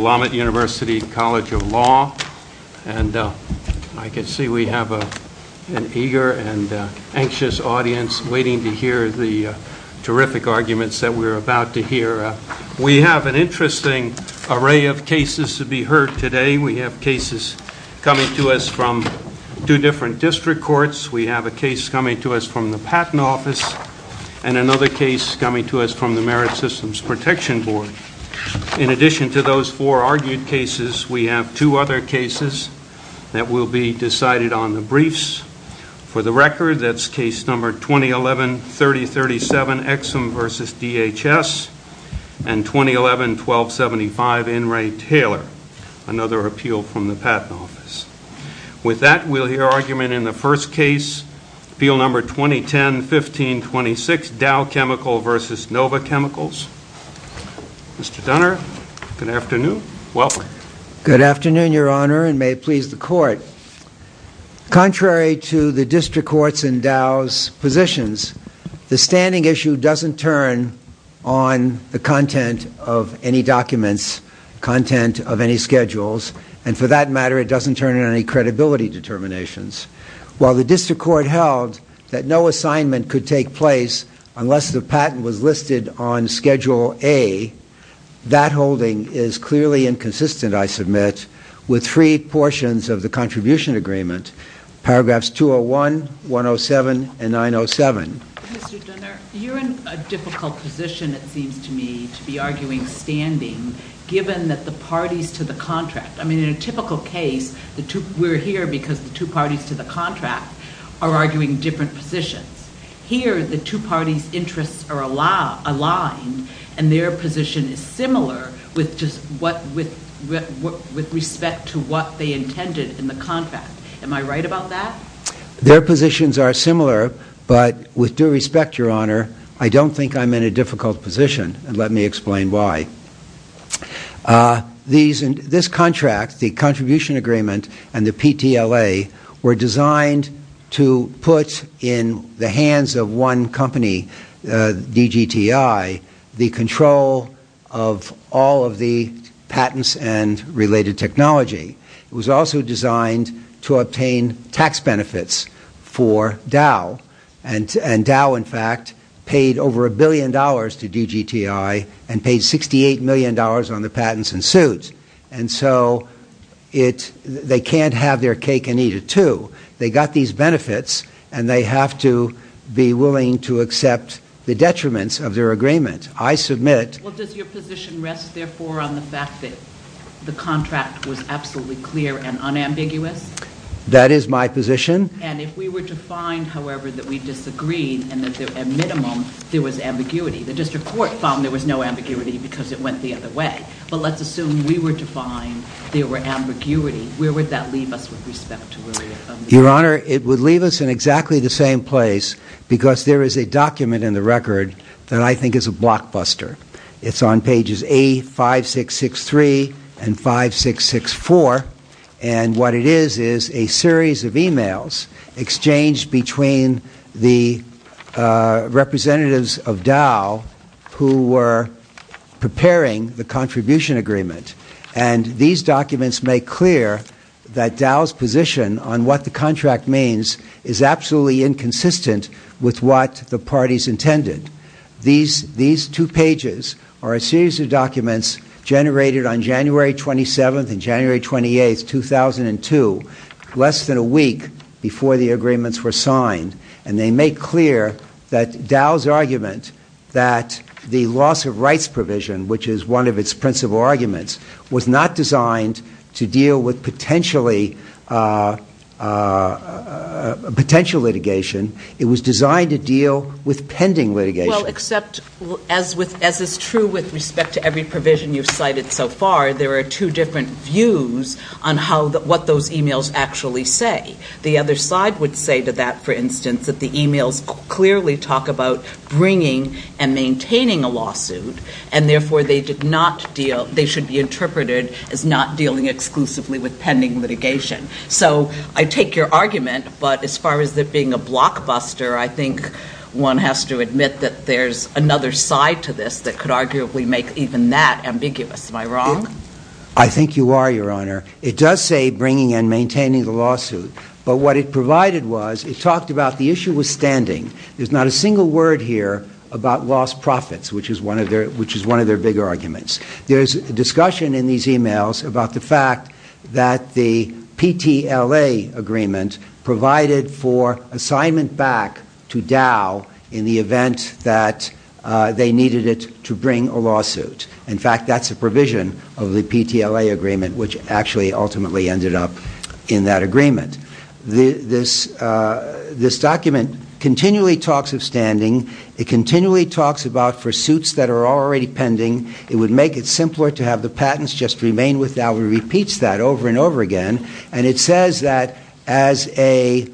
Lomat University College of Law, and I can see we have an eager and anxious audience waiting to hear the terrific arguments that we're about to hear. We have an interesting array of cases to be heard today. We have cases coming to us from two different district courts. We have a case coming to us from the Patent Office, and another case coming to us from the Merit Systems Protection Board. In addition to those four argued cases, we have two other cases that will be decided on the briefs. For the record, that's case number 2011-3037, Exum v. DHS, and 2011-1275, In re, Taylor, another appeal from the Patent Office. With that, we'll hear argument in the first case, appeal number 2010-1526, DOW CHEMICAL v. NOVA CHEMICALS. Mr. Dunner, good afternoon. Welcome. Good afternoon, Your Honor, and may it please the Court. Contrary to the district courts' and DOW's positions, the standing issue doesn't turn on the content of any documents, content of any schedules, and for that matter, it doesn't turn on any credibility determinations. While the district court held that no assignment could take place unless the patent was listed on Schedule A, that holding is clearly inconsistent, I submit, with three portions of the contribution agreement, paragraphs 201, 107, and 907. Mr. Dunner, you're in a difficult position, it seems to me, to be arguing standing, given that the parties to the contract, I mean, in a typical case, we're here because the two parties to the contract are arguing different positions. Here, the two parties' interests are aligned, and their position is similar with respect to what they intended in the contract. Am I right about that? Their positions are similar, but with due respect, Your Honor, I don't think I'm in a difficult position, and let me explain why. This contract, the contribution agreement and the PTLA, were designed to put in the hands of one company, DGTI, the control of all of the patents and related technology. It was also designed to obtain tax benefits for Dow, and Dow, in fact, paid over a billion dollars to DGTI, and paid $68 million on the patents and suits. And so, they can't have their cake and eat it, too. They got these benefits, and they have to be willing to accept the detriments of their agreement. Well, does your position rest, therefore, on the fact that the contract was absolutely clear and unambiguous? That is my position. And if we were to find, however, that we disagreed, and that, at minimum, there was ambiguity, the district court found there was no ambiguity because it went the other way. But let's assume we were to find there were ambiguity. Where would that leave us with respect to where we're at? Your Honor, it would leave us in exactly the same place because there is a document in the record that I think is a blockbuster. It's on pages A5663 and 5664, and what it is is a series of emails exchanged between the representatives of Dow who were preparing the contribution agreement. And these documents make clear that Dow's position on what the contract means is absolutely inconsistent with what the parties intended. These two pages are a series of documents generated on January 27th and January 28th, 2002, less than a week before the agreements were signed. And they make clear that Dow's argument that the loss of rights provision, which is one of its principal arguments, was not designed to deal with potential litigation. It was designed to deal with pending litigation. Well, except, as is true with respect to every provision you've cited so far, there are two different views on what those emails actually say. The other side would say to that, for instance, that the emails clearly talk about bringing and maintaining a lawsuit, and therefore they should be interpreted as not dealing exclusively with pending litigation. So I take your argument, but as far as it being a blockbuster, I think one has to admit that there's another side to this that could arguably make even that ambiguous. Am I wrong? I think you are, Your Honor. It does say bringing and maintaining the lawsuit, but what it provided was it talked about the issue with standing. There's not a single word here about lost profits, which is one of their bigger arguments. There's discussion in these emails about the fact that the PTLA agreement provided for assignment back to Dow in the event that they needed it to bring a lawsuit. In fact, that's a provision of the PTLA agreement, which actually ultimately ended up in that agreement. This document continually talks of standing. It continually talks about for suits that are already pending, it would make it simpler to have the patents just remain with Dow. It repeats that over and over again, and it says that as a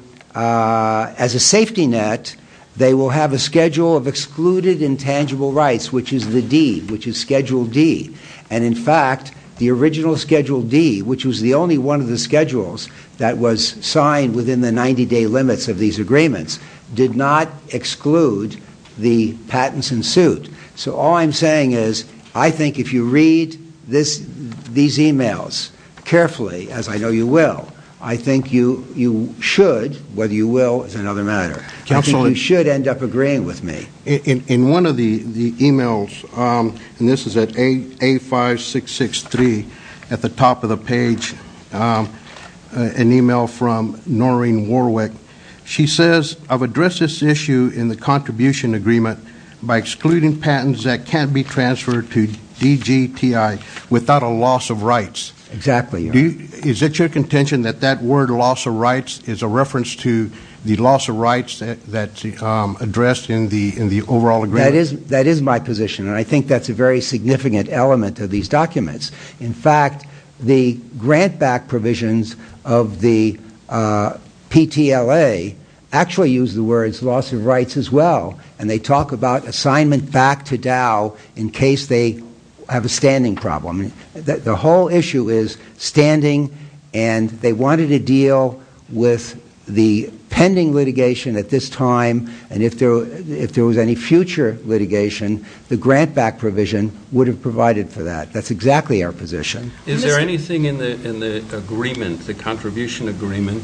safety net, they will have a schedule of excluded intangible rights, which is the D, which is Schedule D. And in fact, the original Schedule D, which was the only one of the schedules that was signed within the 90-day limits of these agreements, did not exclude the patents in suit. So all I'm saying is I think if you read these emails carefully, as I know you will, I think you should, whether you will is another matter, I think you should end up agreeing with me. In one of the emails, and this is at A5663 at the top of the page, an email from Noreen Warwick. She says, I've addressed this issue in the contribution agreement by excluding patents that can't be transferred to DGTI without a loss of rights. Exactly. Is it your contention that that word loss of rights is a reference to the loss of rights that's addressed in the overall agreement? That is my position, and I think that's a very significant element of these documents. In fact, the grant-back provisions of the PTLA actually use the words loss of rights as well, and they talk about assignment back to Dow in case they have a standing problem. The whole issue is standing, and they wanted to deal with the pending litigation at this time, and if there was any future litigation, the grant-back provision would have provided for that. That's exactly our position. Is there anything in the agreement, the contribution agreement,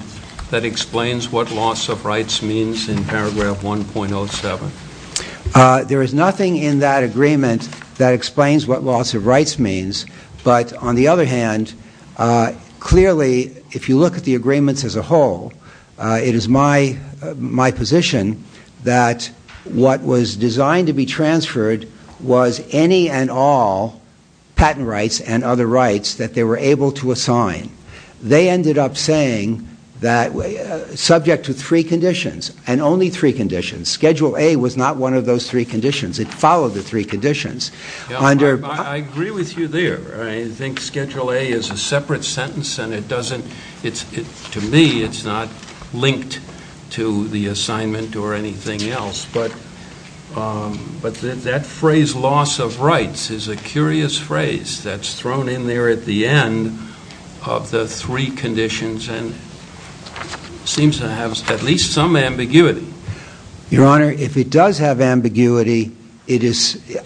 that explains what loss of rights means in paragraph 1.07? There is nothing in that agreement that explains what loss of rights means. But on the other hand, clearly, if you look at the agreements as a whole, it is my position that what was designed to be transferred was any and all patent rights and other rights that they were able to assign. They ended up saying that subject to three conditions, and only three conditions, Schedule A was not one of those three conditions. It followed the three conditions. I agree with you there. I think Schedule A is a separate sentence, and to me, it's not linked to the assignment or anything else. But that phrase, loss of rights, is a curious phrase that's thrown in there at the end of the three conditions and seems to have at least some ambiguity. Your Honor, if it does have ambiguity,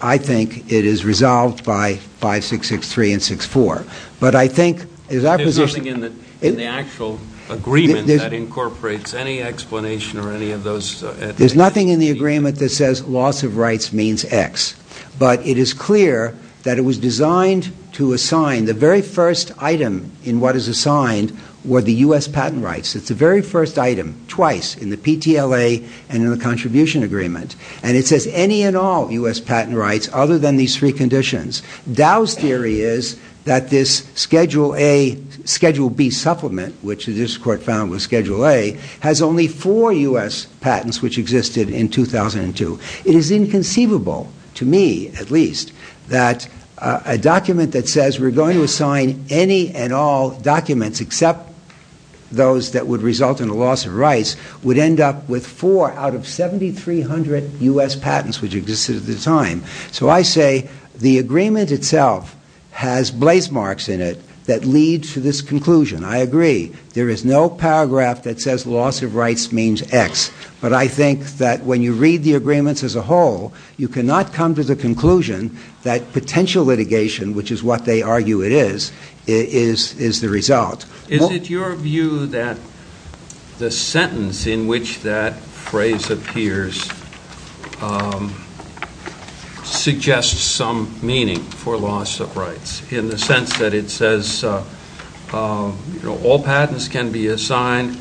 I think it is resolved by 5663 and 64. But I think, as our position... There's nothing in the actual agreement that incorporates any explanation or any of those... There's nothing in the agreement that says loss of rights means X. But it is clear that it was designed to assign... The very first item in what is assigned were the U.S. patent rights. It's the very first item, twice, in the PTLA and in the contribution agreement. And it says any and all U.S. patent rights other than these three conditions. Dow's theory is that this Schedule B supplement, which this Court found was Schedule A, has only four U.S. patents, which existed in 2002. It is inconceivable, to me at least, that a document that says we're going to assign any and all documents except those that would result in a loss of rights, would end up with four out of 7,300 U.S. patents, which existed at the time. So I say the agreement itself has blaze marks in it that lead to this conclusion. I agree. There is no paragraph that says loss of rights means X. But I think that when you read the agreements as a whole, you cannot come to the conclusion that potential litigation, which is what they argue it is, is the result. Is it your view that the sentence in which that phrase appears suggests some meaning for loss of rights? In the sense that it says all patents can be assigned...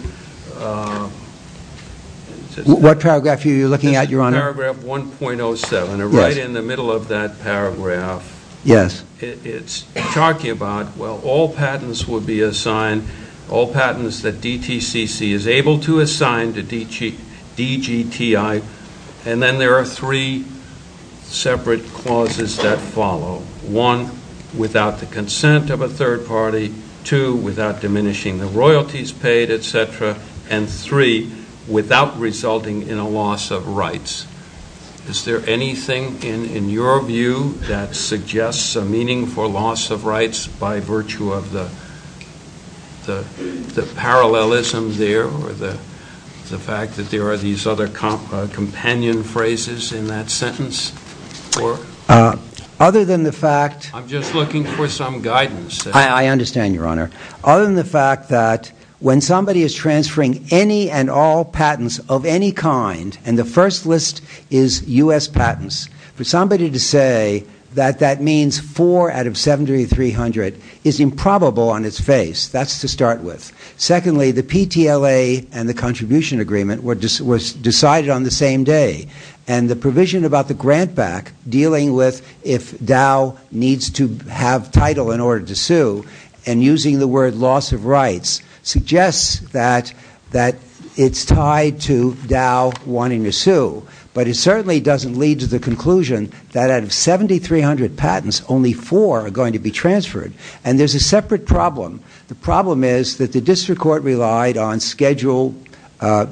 What paragraph are you looking at, Your Honor? Paragraph 1.07, right in the middle of that paragraph. Yes. It's talking about, well, all patents will be assigned, all patents that DTCC is able to assign to DGTI. And then there are three separate clauses that follow. One, without the consent of a third party. Two, without diminishing the royalties paid, etc. And three, without resulting in a loss of rights. Is there anything in your view that suggests a meaning for loss of rights by virtue of the parallelism there? Or the fact that there are these other companion phrases in that sentence? Other than the fact... I'm just looking for some guidance. I understand, Your Honor. Other than the fact that when somebody is transferring any and all patents of any kind, and the first list is U.S. patents, for somebody to say that that means four out of 7,300 is improbable on its face, that's to start with. Secondly, the PTLA and the contribution agreement were decided on the same day. And the provision about the grant back, dealing with if Dow needs to have title in order to sue, and using the word loss of rights, suggests that it's tied to Dow wanting to sue. But it certainly doesn't lead to the conclusion that out of 7,300 patents, only four are going to be transferred. And there's a separate problem. The problem is that the district court relied on Schedule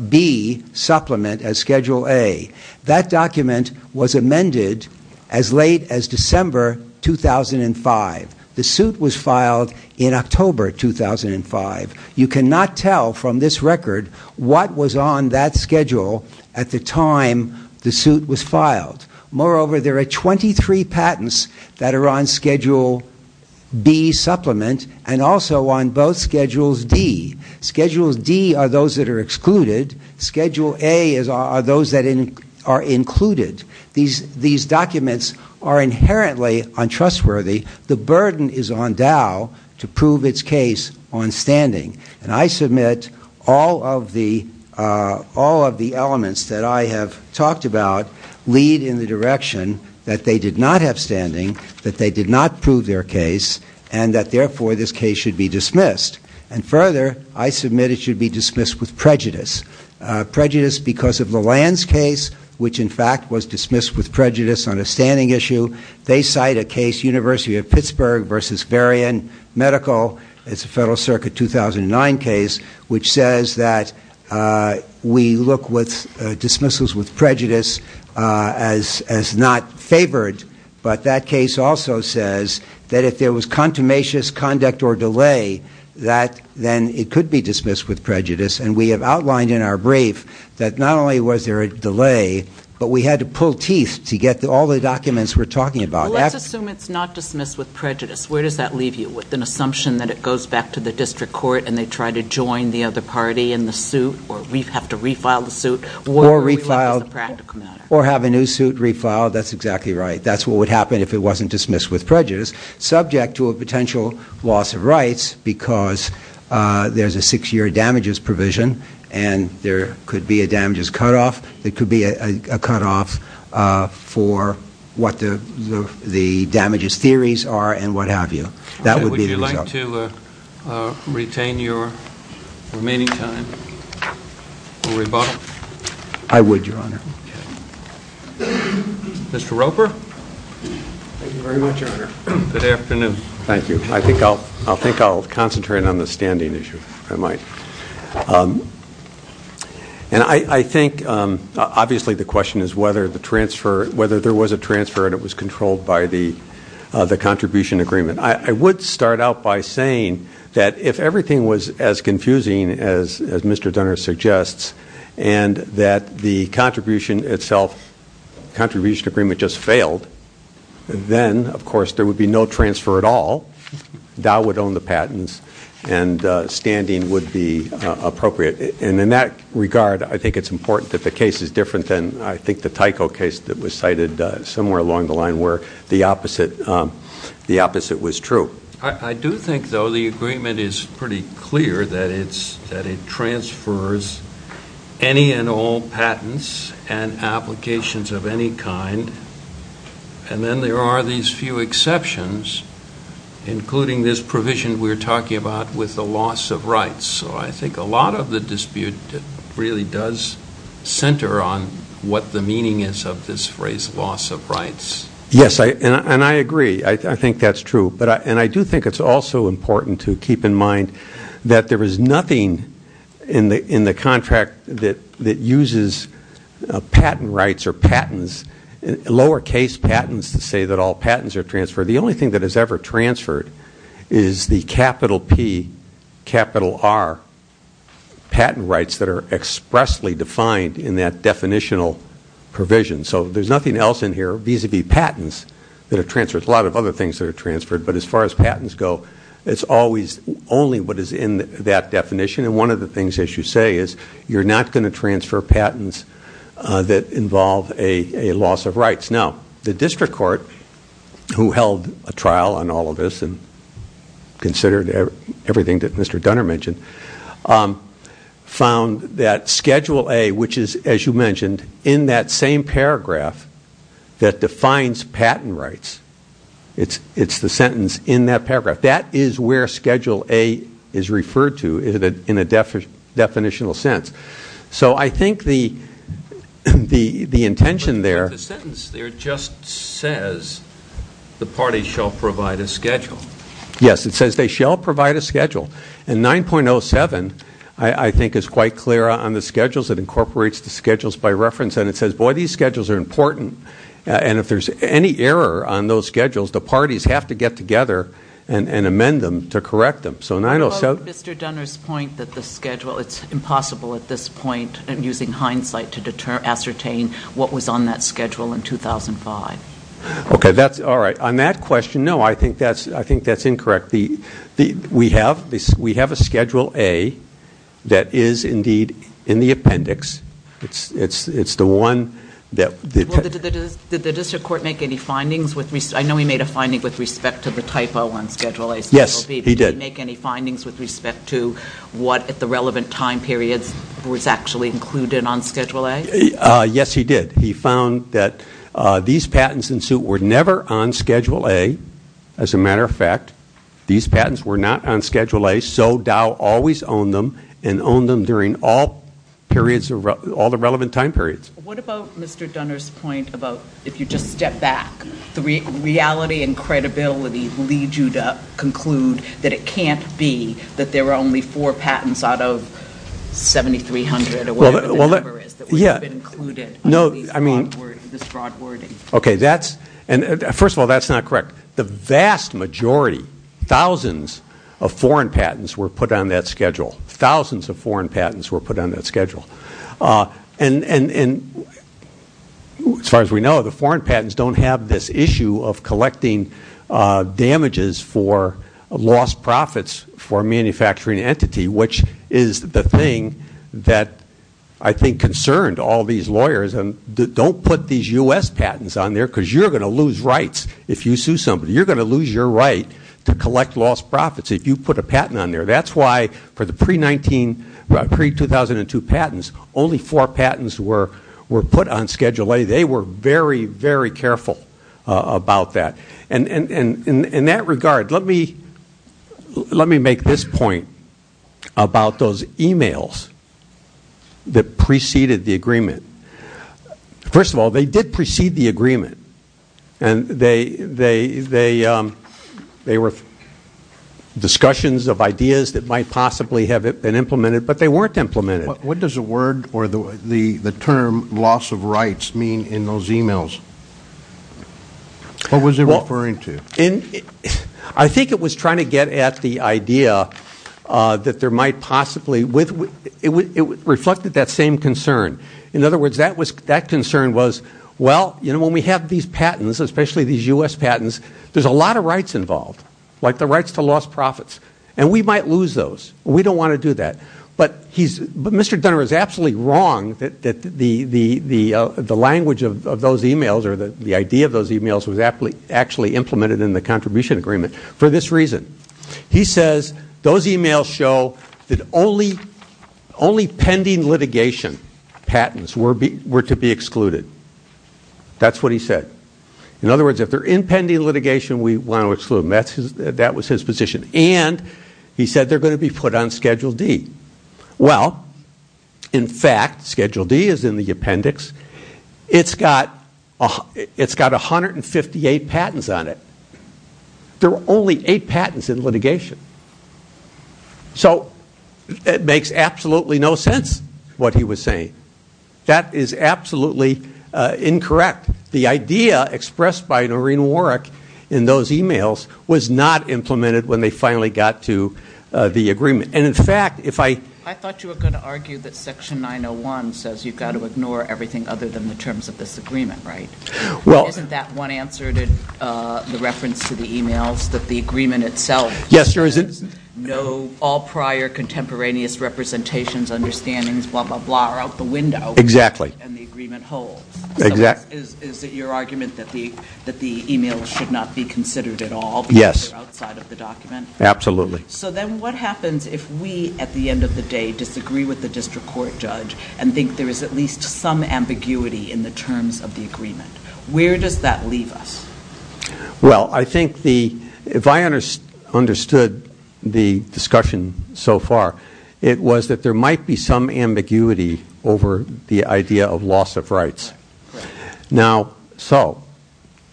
B supplement as Schedule A. That document was amended as late as December 2005. The suit was filed in October 2005. You cannot tell from this record what was on that schedule at the time the suit was filed. Moreover, there are 23 patents that are on Schedule B supplement, and also on both Schedules D. Schedules D are those that are excluded. Schedule A are those that are included. These documents are inherently untrustworthy. The burden is on Dow to prove its case on standing. And I submit all of the elements that I have talked about lead in the direction that they did not have standing, that they did not prove their case, and that therefore this case should be dismissed. Prejudice because of Lalande's case, which in fact was dismissed with prejudice on a standing issue. They cite a case, University of Pittsburgh versus Varian Medical, it's a Federal Circuit 2009 case, which says that we look with dismissals with prejudice as not favored. But that case also says that if there was contumacious conduct or delay, that then it could be dismissed with prejudice. And we have outlined in our brief that not only was there a delay, but we had to pull teeth to get all the documents we're talking about. Let's assume it's not dismissed with prejudice. Where does that leave you? With an assumption that it goes back to the district court and they try to join the other party in the suit, or we have to refile the suit? Or have a new suit refiled. That's exactly right. That's what would happen if it wasn't dismissed with prejudice, subject to a potential loss of rights because there's a six-year damages provision and there could be a damages cutoff. There could be a cutoff for what the damages theories are and what have you. Would you like to retain your remaining time for rebuttal? I would, Your Honor. Mr. Roper? Thank you very much, Your Honor. Good afternoon. Thank you. I think I'll concentrate on the standing issue, if I might. I think obviously the question is whether there was a transfer and it was controlled by the contribution agreement. I would start out by saying that if everything was as confusing as Mr. Dunner suggests, and that the contribution itself, contribution agreement just failed, then, of course, there would be no transfer at all. Dow would own the patents and standing would be appropriate. And in that regard, I think it's important that the case is different than, I think, the Tyco case that was cited somewhere along the line where the opposite was true. I do think, though, the agreement is pretty clear that it transfers any and all patents and applications of any kind. And then there are these few exceptions, including this provision we're talking about with the loss of rights. So I think a lot of the dispute really does center on what the meaning is of this phrase, loss of rights. Yes, and I agree. I think that's true. And I do think it's also important to keep in mind that there is nothing in the contract that uses patent rights or patents, lowercase patents, to say that all patents are transferred. The only thing that is ever transferred is the capital P, capital R patent rights that are expressly defined in that definitional provision. So there's nothing else in here vis-a-vis patents that are transferred. There's a lot of other things that are transferred. But as far as patents go, it's always only what is in that definition. And one of the things, as you say, is you're not going to transfer patents that involve a loss of rights. Now, the district court, who held a trial on all of this and considered everything that Mr. Dunner mentioned, found that Schedule A, which is, as you mentioned, in that same paragraph that defines patent rights, it's the sentence in that paragraph, that is where Schedule A is referred to in a definitional sense. So I think the intention there... But the sentence there just says the parties shall provide a schedule. And 9.07, I think, is quite clear on the schedules. It incorporates the schedules by reference. And it says, boy, these schedules are important. And if there's any error on those schedules, the parties have to get together and amend them to correct them. So 9.07... Well, Mr. Dunner's point that the schedule... It's impossible at this point, in using hindsight, to ascertain what was on that schedule in 2005. Okay, that's... All right, on that question, no, I think that's incorrect. We have a Schedule A that is, indeed, in the appendix. It's the one that... Did the district court make any findings? I know he made a finding with respect to the typo on Schedule A, Schedule B. Yes, he did. Did he make any findings with respect to what, at the relevant time periods, was actually included on Schedule A? Yes, he did. He found that these patents in suit were never on Schedule A. As a matter of fact, these patents were not on Schedule A, so Dow always owned them and owned them during all the relevant time periods. What about Mr. Dunner's point about, if you just step back, reality and credibility lead you to conclude that it can't be that there are only four patents out of 7,300 or whatever the number is that would have been included in this broad wording? Okay, that's... First of all, that's not correct. The vast majority, thousands, of foreign patents were put on that schedule. Thousands of foreign patents were put on that schedule. And, as far as we know, the foreign patents don't have this issue of collecting damages for lost profits for a manufacturing entity, which is the thing that I think concerned all these lawyers. Don't put these U.S. patents on there because you're going to lose rights if you sue somebody. You're going to lose your right to collect lost profits if you put a patent on there. That's why, for the pre-2002 patents, only four patents were put on Schedule A. They were very, very careful about that. In that regard, let me make this point about those e-mails that preceded the agreement. First of all, they did precede the agreement. And they were discussions of ideas that might possibly have been implemented, but they weren't implemented. What does the word or the term loss of rights mean in those e-mails? What was he referring to? I think it was trying to get at the idea that there might possibly – it reflected that same concern. In other words, that concern was, well, when we have these patents, especially these U.S. patents, there's a lot of rights involved, like the rights to lost profits, and we might lose those. We don't want to do that. But Mr. Dunner is absolutely wrong that the language of those e-mails or the idea of those e-mails was actually implemented in the contribution agreement for this reason. He says those e-mails show that only pending litigation patents were to be excluded. That's what he said. In other words, if they're in pending litigation, we want to exclude them. That was his position. And he said they're going to be put on Schedule D. Well, in fact, Schedule D is in the appendix. It's got 158 patents on it. There were only eight patents in litigation. So it makes absolutely no sense what he was saying. That is absolutely incorrect. In fact, the idea expressed by Noreen Warwick in those e-mails was not implemented when they finally got to the agreement. And, in fact, if I ---- I thought you were going to argue that Section 901 says you've got to ignore everything other than the terms of this agreement, right? Well ---- Isn't that one answer to the reference to the e-mails, that the agreement itself ---- Yes, there is a ---- No all prior contemporaneous representations, understandings, blah, blah, blah, are out the window. Exactly. And the agreement holds. Exactly. So is it your argument that the e-mails should not be considered at all? Yes. Outside of the document? Absolutely. So then what happens if we, at the end of the day, disagree with the district court judge and think there is at least some ambiguity in the terms of the agreement? Where does that leave us? Well, I think the ---- If I understood the discussion so far, it was that there might be some ambiguity over the idea of loss of rights. Now, so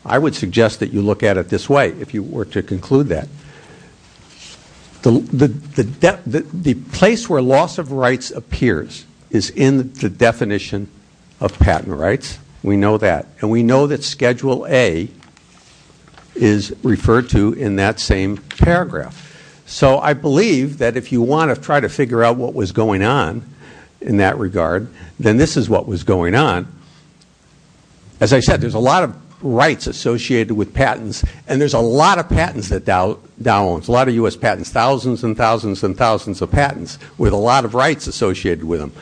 I would suggest that you look at it this way, if you were to conclude that. The place where loss of rights appears is in the definition of patent rights. We know that. And we know that Schedule A is referred to in that same paragraph. So I believe that if you want to try to figure out what was going on in that regard, then this is what was going on. As I said, there is a lot of rights associated with patents, and there is a lot of patents that Dow owns, a lot of U.S. patents, thousands and thousands and thousands of patents with a lot of rights associated with them.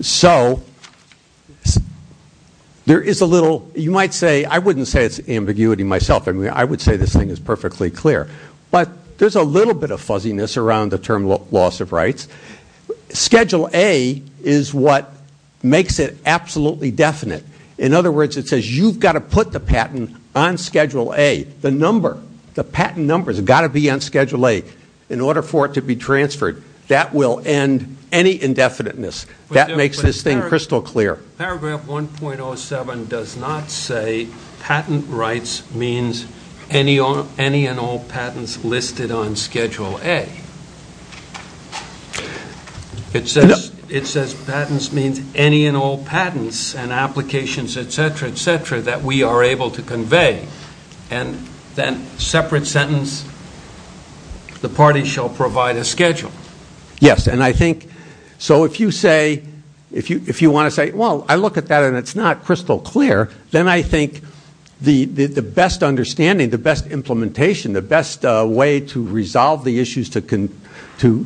So there is a little, you might say, I wouldn't say it's ambiguity myself. I mean, I would say this thing is perfectly clear. But there's a little bit of fuzziness around the term loss of rights. Schedule A is what makes it absolutely definite. In other words, it says you've got to put the patent on Schedule A. The number, the patent number has got to be on Schedule A. In order for it to be transferred, that will end any indefiniteness. That makes this thing crystal clear. Paragraph 1.07 does not say patent rights means any and all patents listed on Schedule A. It says patents means any and all patents and applications, et cetera, et cetera, that we are able to convey. And then separate sentence, the party shall provide a schedule. Yes. And I think so if you say, if you want to say, well, I look at that and it's not crystal clear, then I think the best understanding, the best implementation, the best way to resolve the issues to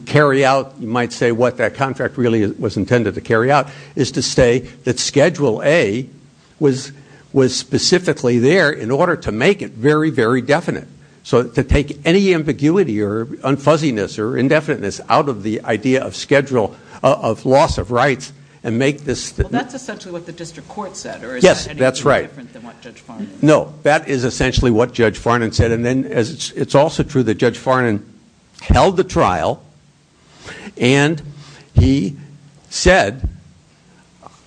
carry out, you might say what that contract really was intended to carry out, is to say that Schedule A was specifically there in order to make it very, very definite. So to take any ambiguity or unfuzziness or indefiniteness out of the idea of schedule of loss of rights and make this- Well, that's essentially what the district court said. Yes, that's right. Or is that anything different than what Judge Farnan said? No, that is essentially what Judge Farnan said. It's also true that Judge Farnan held the trial and he said,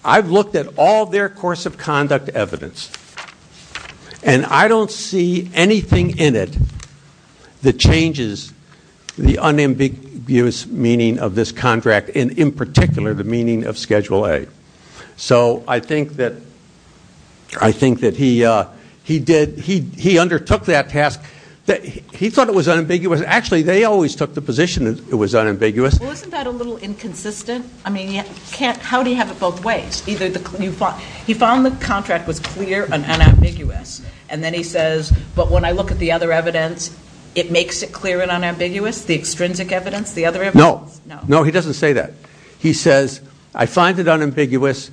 I've looked at all their course of conduct evidence and I don't see anything in it that changes the unambiguous meaning of this contract, and in particular, the meaning of Schedule A. So I think that he undertook that task. He thought it was unambiguous. Actually, they always took the position that it was unambiguous. Well, isn't that a little inconsistent? I mean, how do you have it both ways? He found the contract was clear and unambiguous, and then he says, but when I look at the other evidence, it makes it clear and unambiguous, the extrinsic evidence, the other evidence? No. No, he doesn't say that. He says, I find it unambiguous.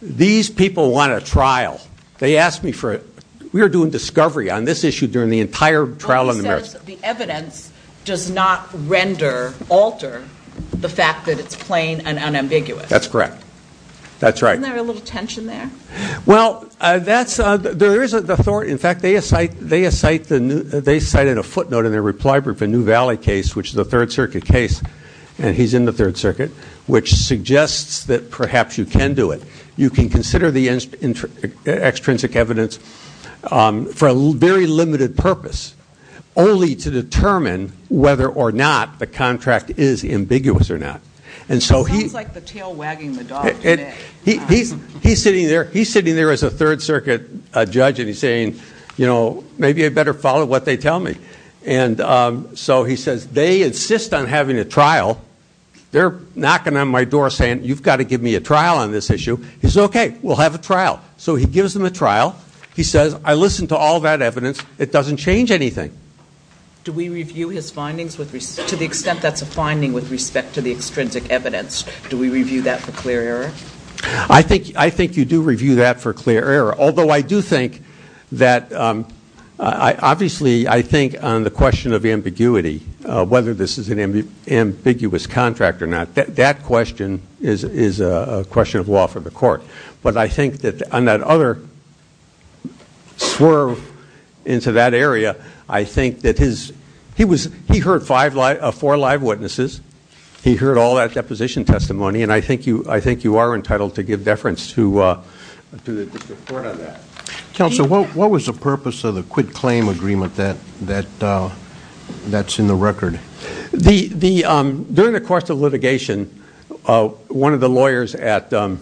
These people want a trial. They asked me for it. We were doing discovery on this issue during the entire trial in America. He says the evidence does not render, alter the fact that it's plain and unambiguous. That's correct. That's right. Isn't there a little tension there? Well, there is authority. In fact, they cited a footnote in their reply brief, a New Valley case, which is a Third Circuit case, and he's in the Third Circuit, which suggests that perhaps you can do it. You can consider the extrinsic evidence for a very limited purpose, only to determine whether or not the contract is ambiguous or not. It sounds like the tail wagging the dog today. He's sitting there as a Third Circuit judge, and he's saying, you know, maybe I better follow what they tell me. So he says, they insist on having a trial. They're knocking on my door saying, you've got to give me a trial on this issue. He says, okay, we'll have a trial. So he gives them a trial. He says, I listened to all that evidence. It doesn't change anything. Do we review his findings to the extent that's a finding with respect to the extrinsic evidence? Do we review that for clear error? I think you do review that for clear error, although I do think that obviously I think on the question of ambiguity, whether this is an ambiguous contract or not, that question is a question of law for the court. But I think that on that other swerve into that area, I think that he heard four live witnesses. He heard all that deposition testimony. And I think you are entitled to give deference to the court on that. Counsel, what was the purpose of the quit-claim agreement that's in the record? During the course of litigation, one of the lawyers at Dow,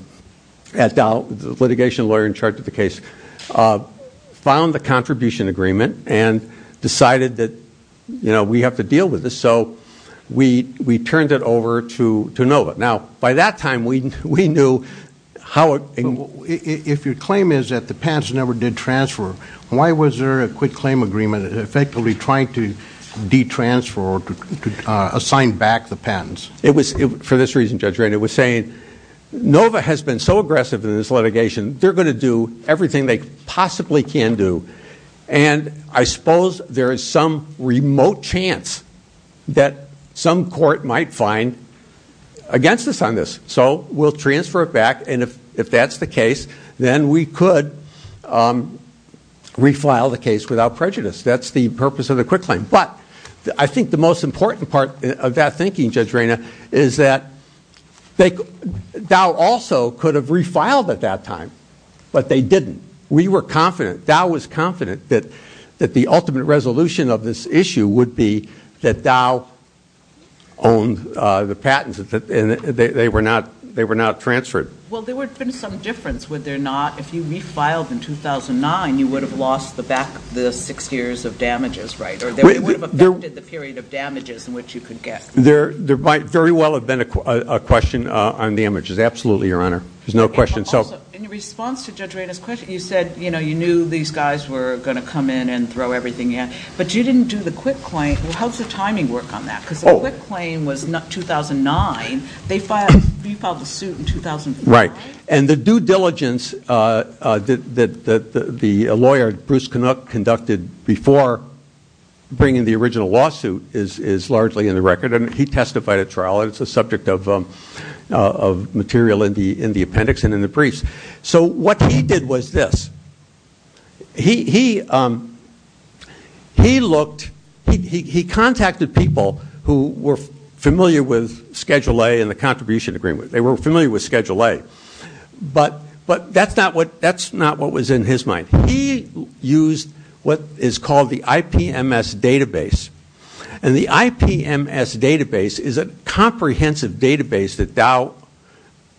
the litigation lawyer in charge of the case, found the contribution agreement and decided that we have to deal with this. So we turned it over to NOVA. Now, by that time, we knew how it was. If your claim is that the patents never did transfer, why was there a quit-claim agreement effectively trying to detransfer or assign back the patents? For this reason, Judge, it was saying NOVA has been so aggressive in this litigation, they're going to do everything they possibly can do. And I suppose there is some remote chance that some court might find against us on this. So we'll transfer it back. And if that's the case, then we could refile the case without prejudice. That's the purpose of the quit-claim. But I think the most important part of that thinking, Judge Reyna, is that Dow also could have refiled at that time. But they didn't. We were confident. That the ultimate resolution of this issue would be that Dow owned the patents and they were not transferred. Well, there would have been some difference, would there not? If you refiled in 2009, you would have lost the six years of damages, right? Or they would have affected the period of damages in which you could get. There might very well have been a question on the images. Absolutely, Your Honor. There's no question. Also, in response to Judge Reyna's question, you said you knew these guys were going to come in and throw everything in. But you didn't do the quit-claim. How does the timing work on that? Because the quit-claim was 2009. You filed the suit in 2004, right? Right. And the due diligence that the lawyer, Bruce Canuck, conducted before bringing the original lawsuit is largely in the record. And he testified at trial. It's a subject of material in the appendix and in the briefs. So what he did was this. He looked he contacted people who were familiar with Schedule A and the contribution agreement. They were familiar with Schedule A. But that's not what was in his mind. He used what is called the IPMS database. And the IPMS database is a comprehensive database that Dow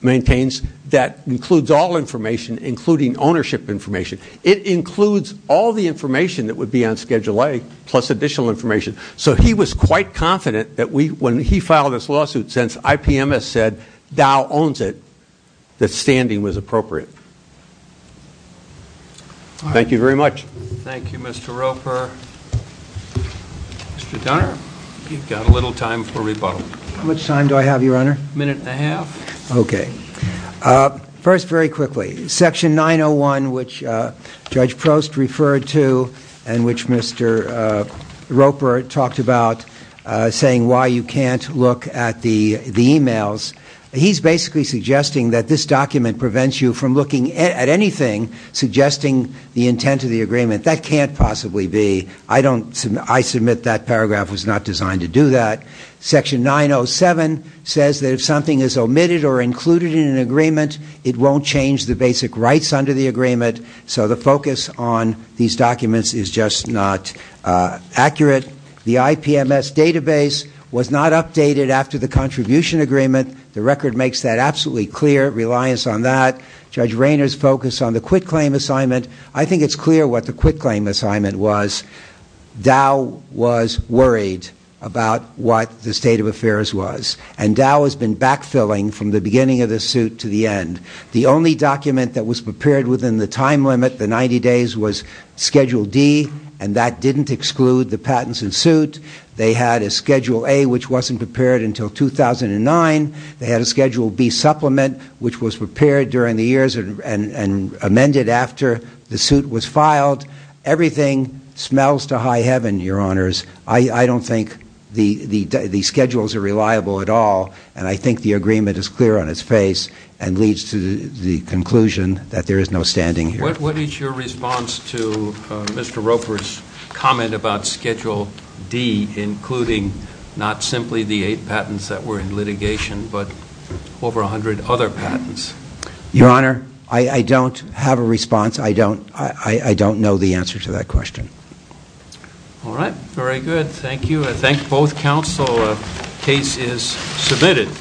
maintains that includes all information, including ownership information. It includes all the information that would be on Schedule A, plus additional information. So he was quite confident that when he filed this lawsuit, since IPMS said Dow owns it, that standing was appropriate. Thank you very much. Thank you, Mr. Roper. Mr. Dunner, you've got a little time for rebuttal. How much time do I have, Your Honor? A minute and a half. Okay. First, very quickly, Section 901, which Judge Prost referred to and which Mr. Roper talked about saying why you can't look at the e-mails, he's basically suggesting that this document prevents you from looking at anything suggesting the intent of the agreement. That can't possibly be. I submit that paragraph was not designed to do that. Section 907 says that if something is omitted or included in an agreement, it won't change the basic rights under the agreement. So the focus on these documents is just not accurate. The IPMS database was not updated after the contribution agreement. The record makes that absolutely clear. Reliance on that. Judge Rayner's focus on the quitclaim assignment. I think it's clear what the quitclaim assignment was. Dow was worried about what the state of affairs was. And Dow has been backfilling from the beginning of this suit to the end. The only document that was prepared within the time limit, the 90 days, was Schedule D. And that didn't exclude the patents and suit. They had a Schedule A, which wasn't prepared until 2009. They had a Schedule B supplement, which was prepared during the years and amended after the suit was filed. Everything smells to high heaven, Your Honors. I don't think the schedules are reliable at all. And I think the agreement is clear on its face and leads to the conclusion that there is no standing here. What is your response to Mr. Roper's comment about Schedule D, including not simply the eight patents that were in litigation, but over 100 other patents? Your Honor, I don't have a response. I don't know the answer to that question. All right. Very good. Thank you. I thank both counsel. The case is submitted.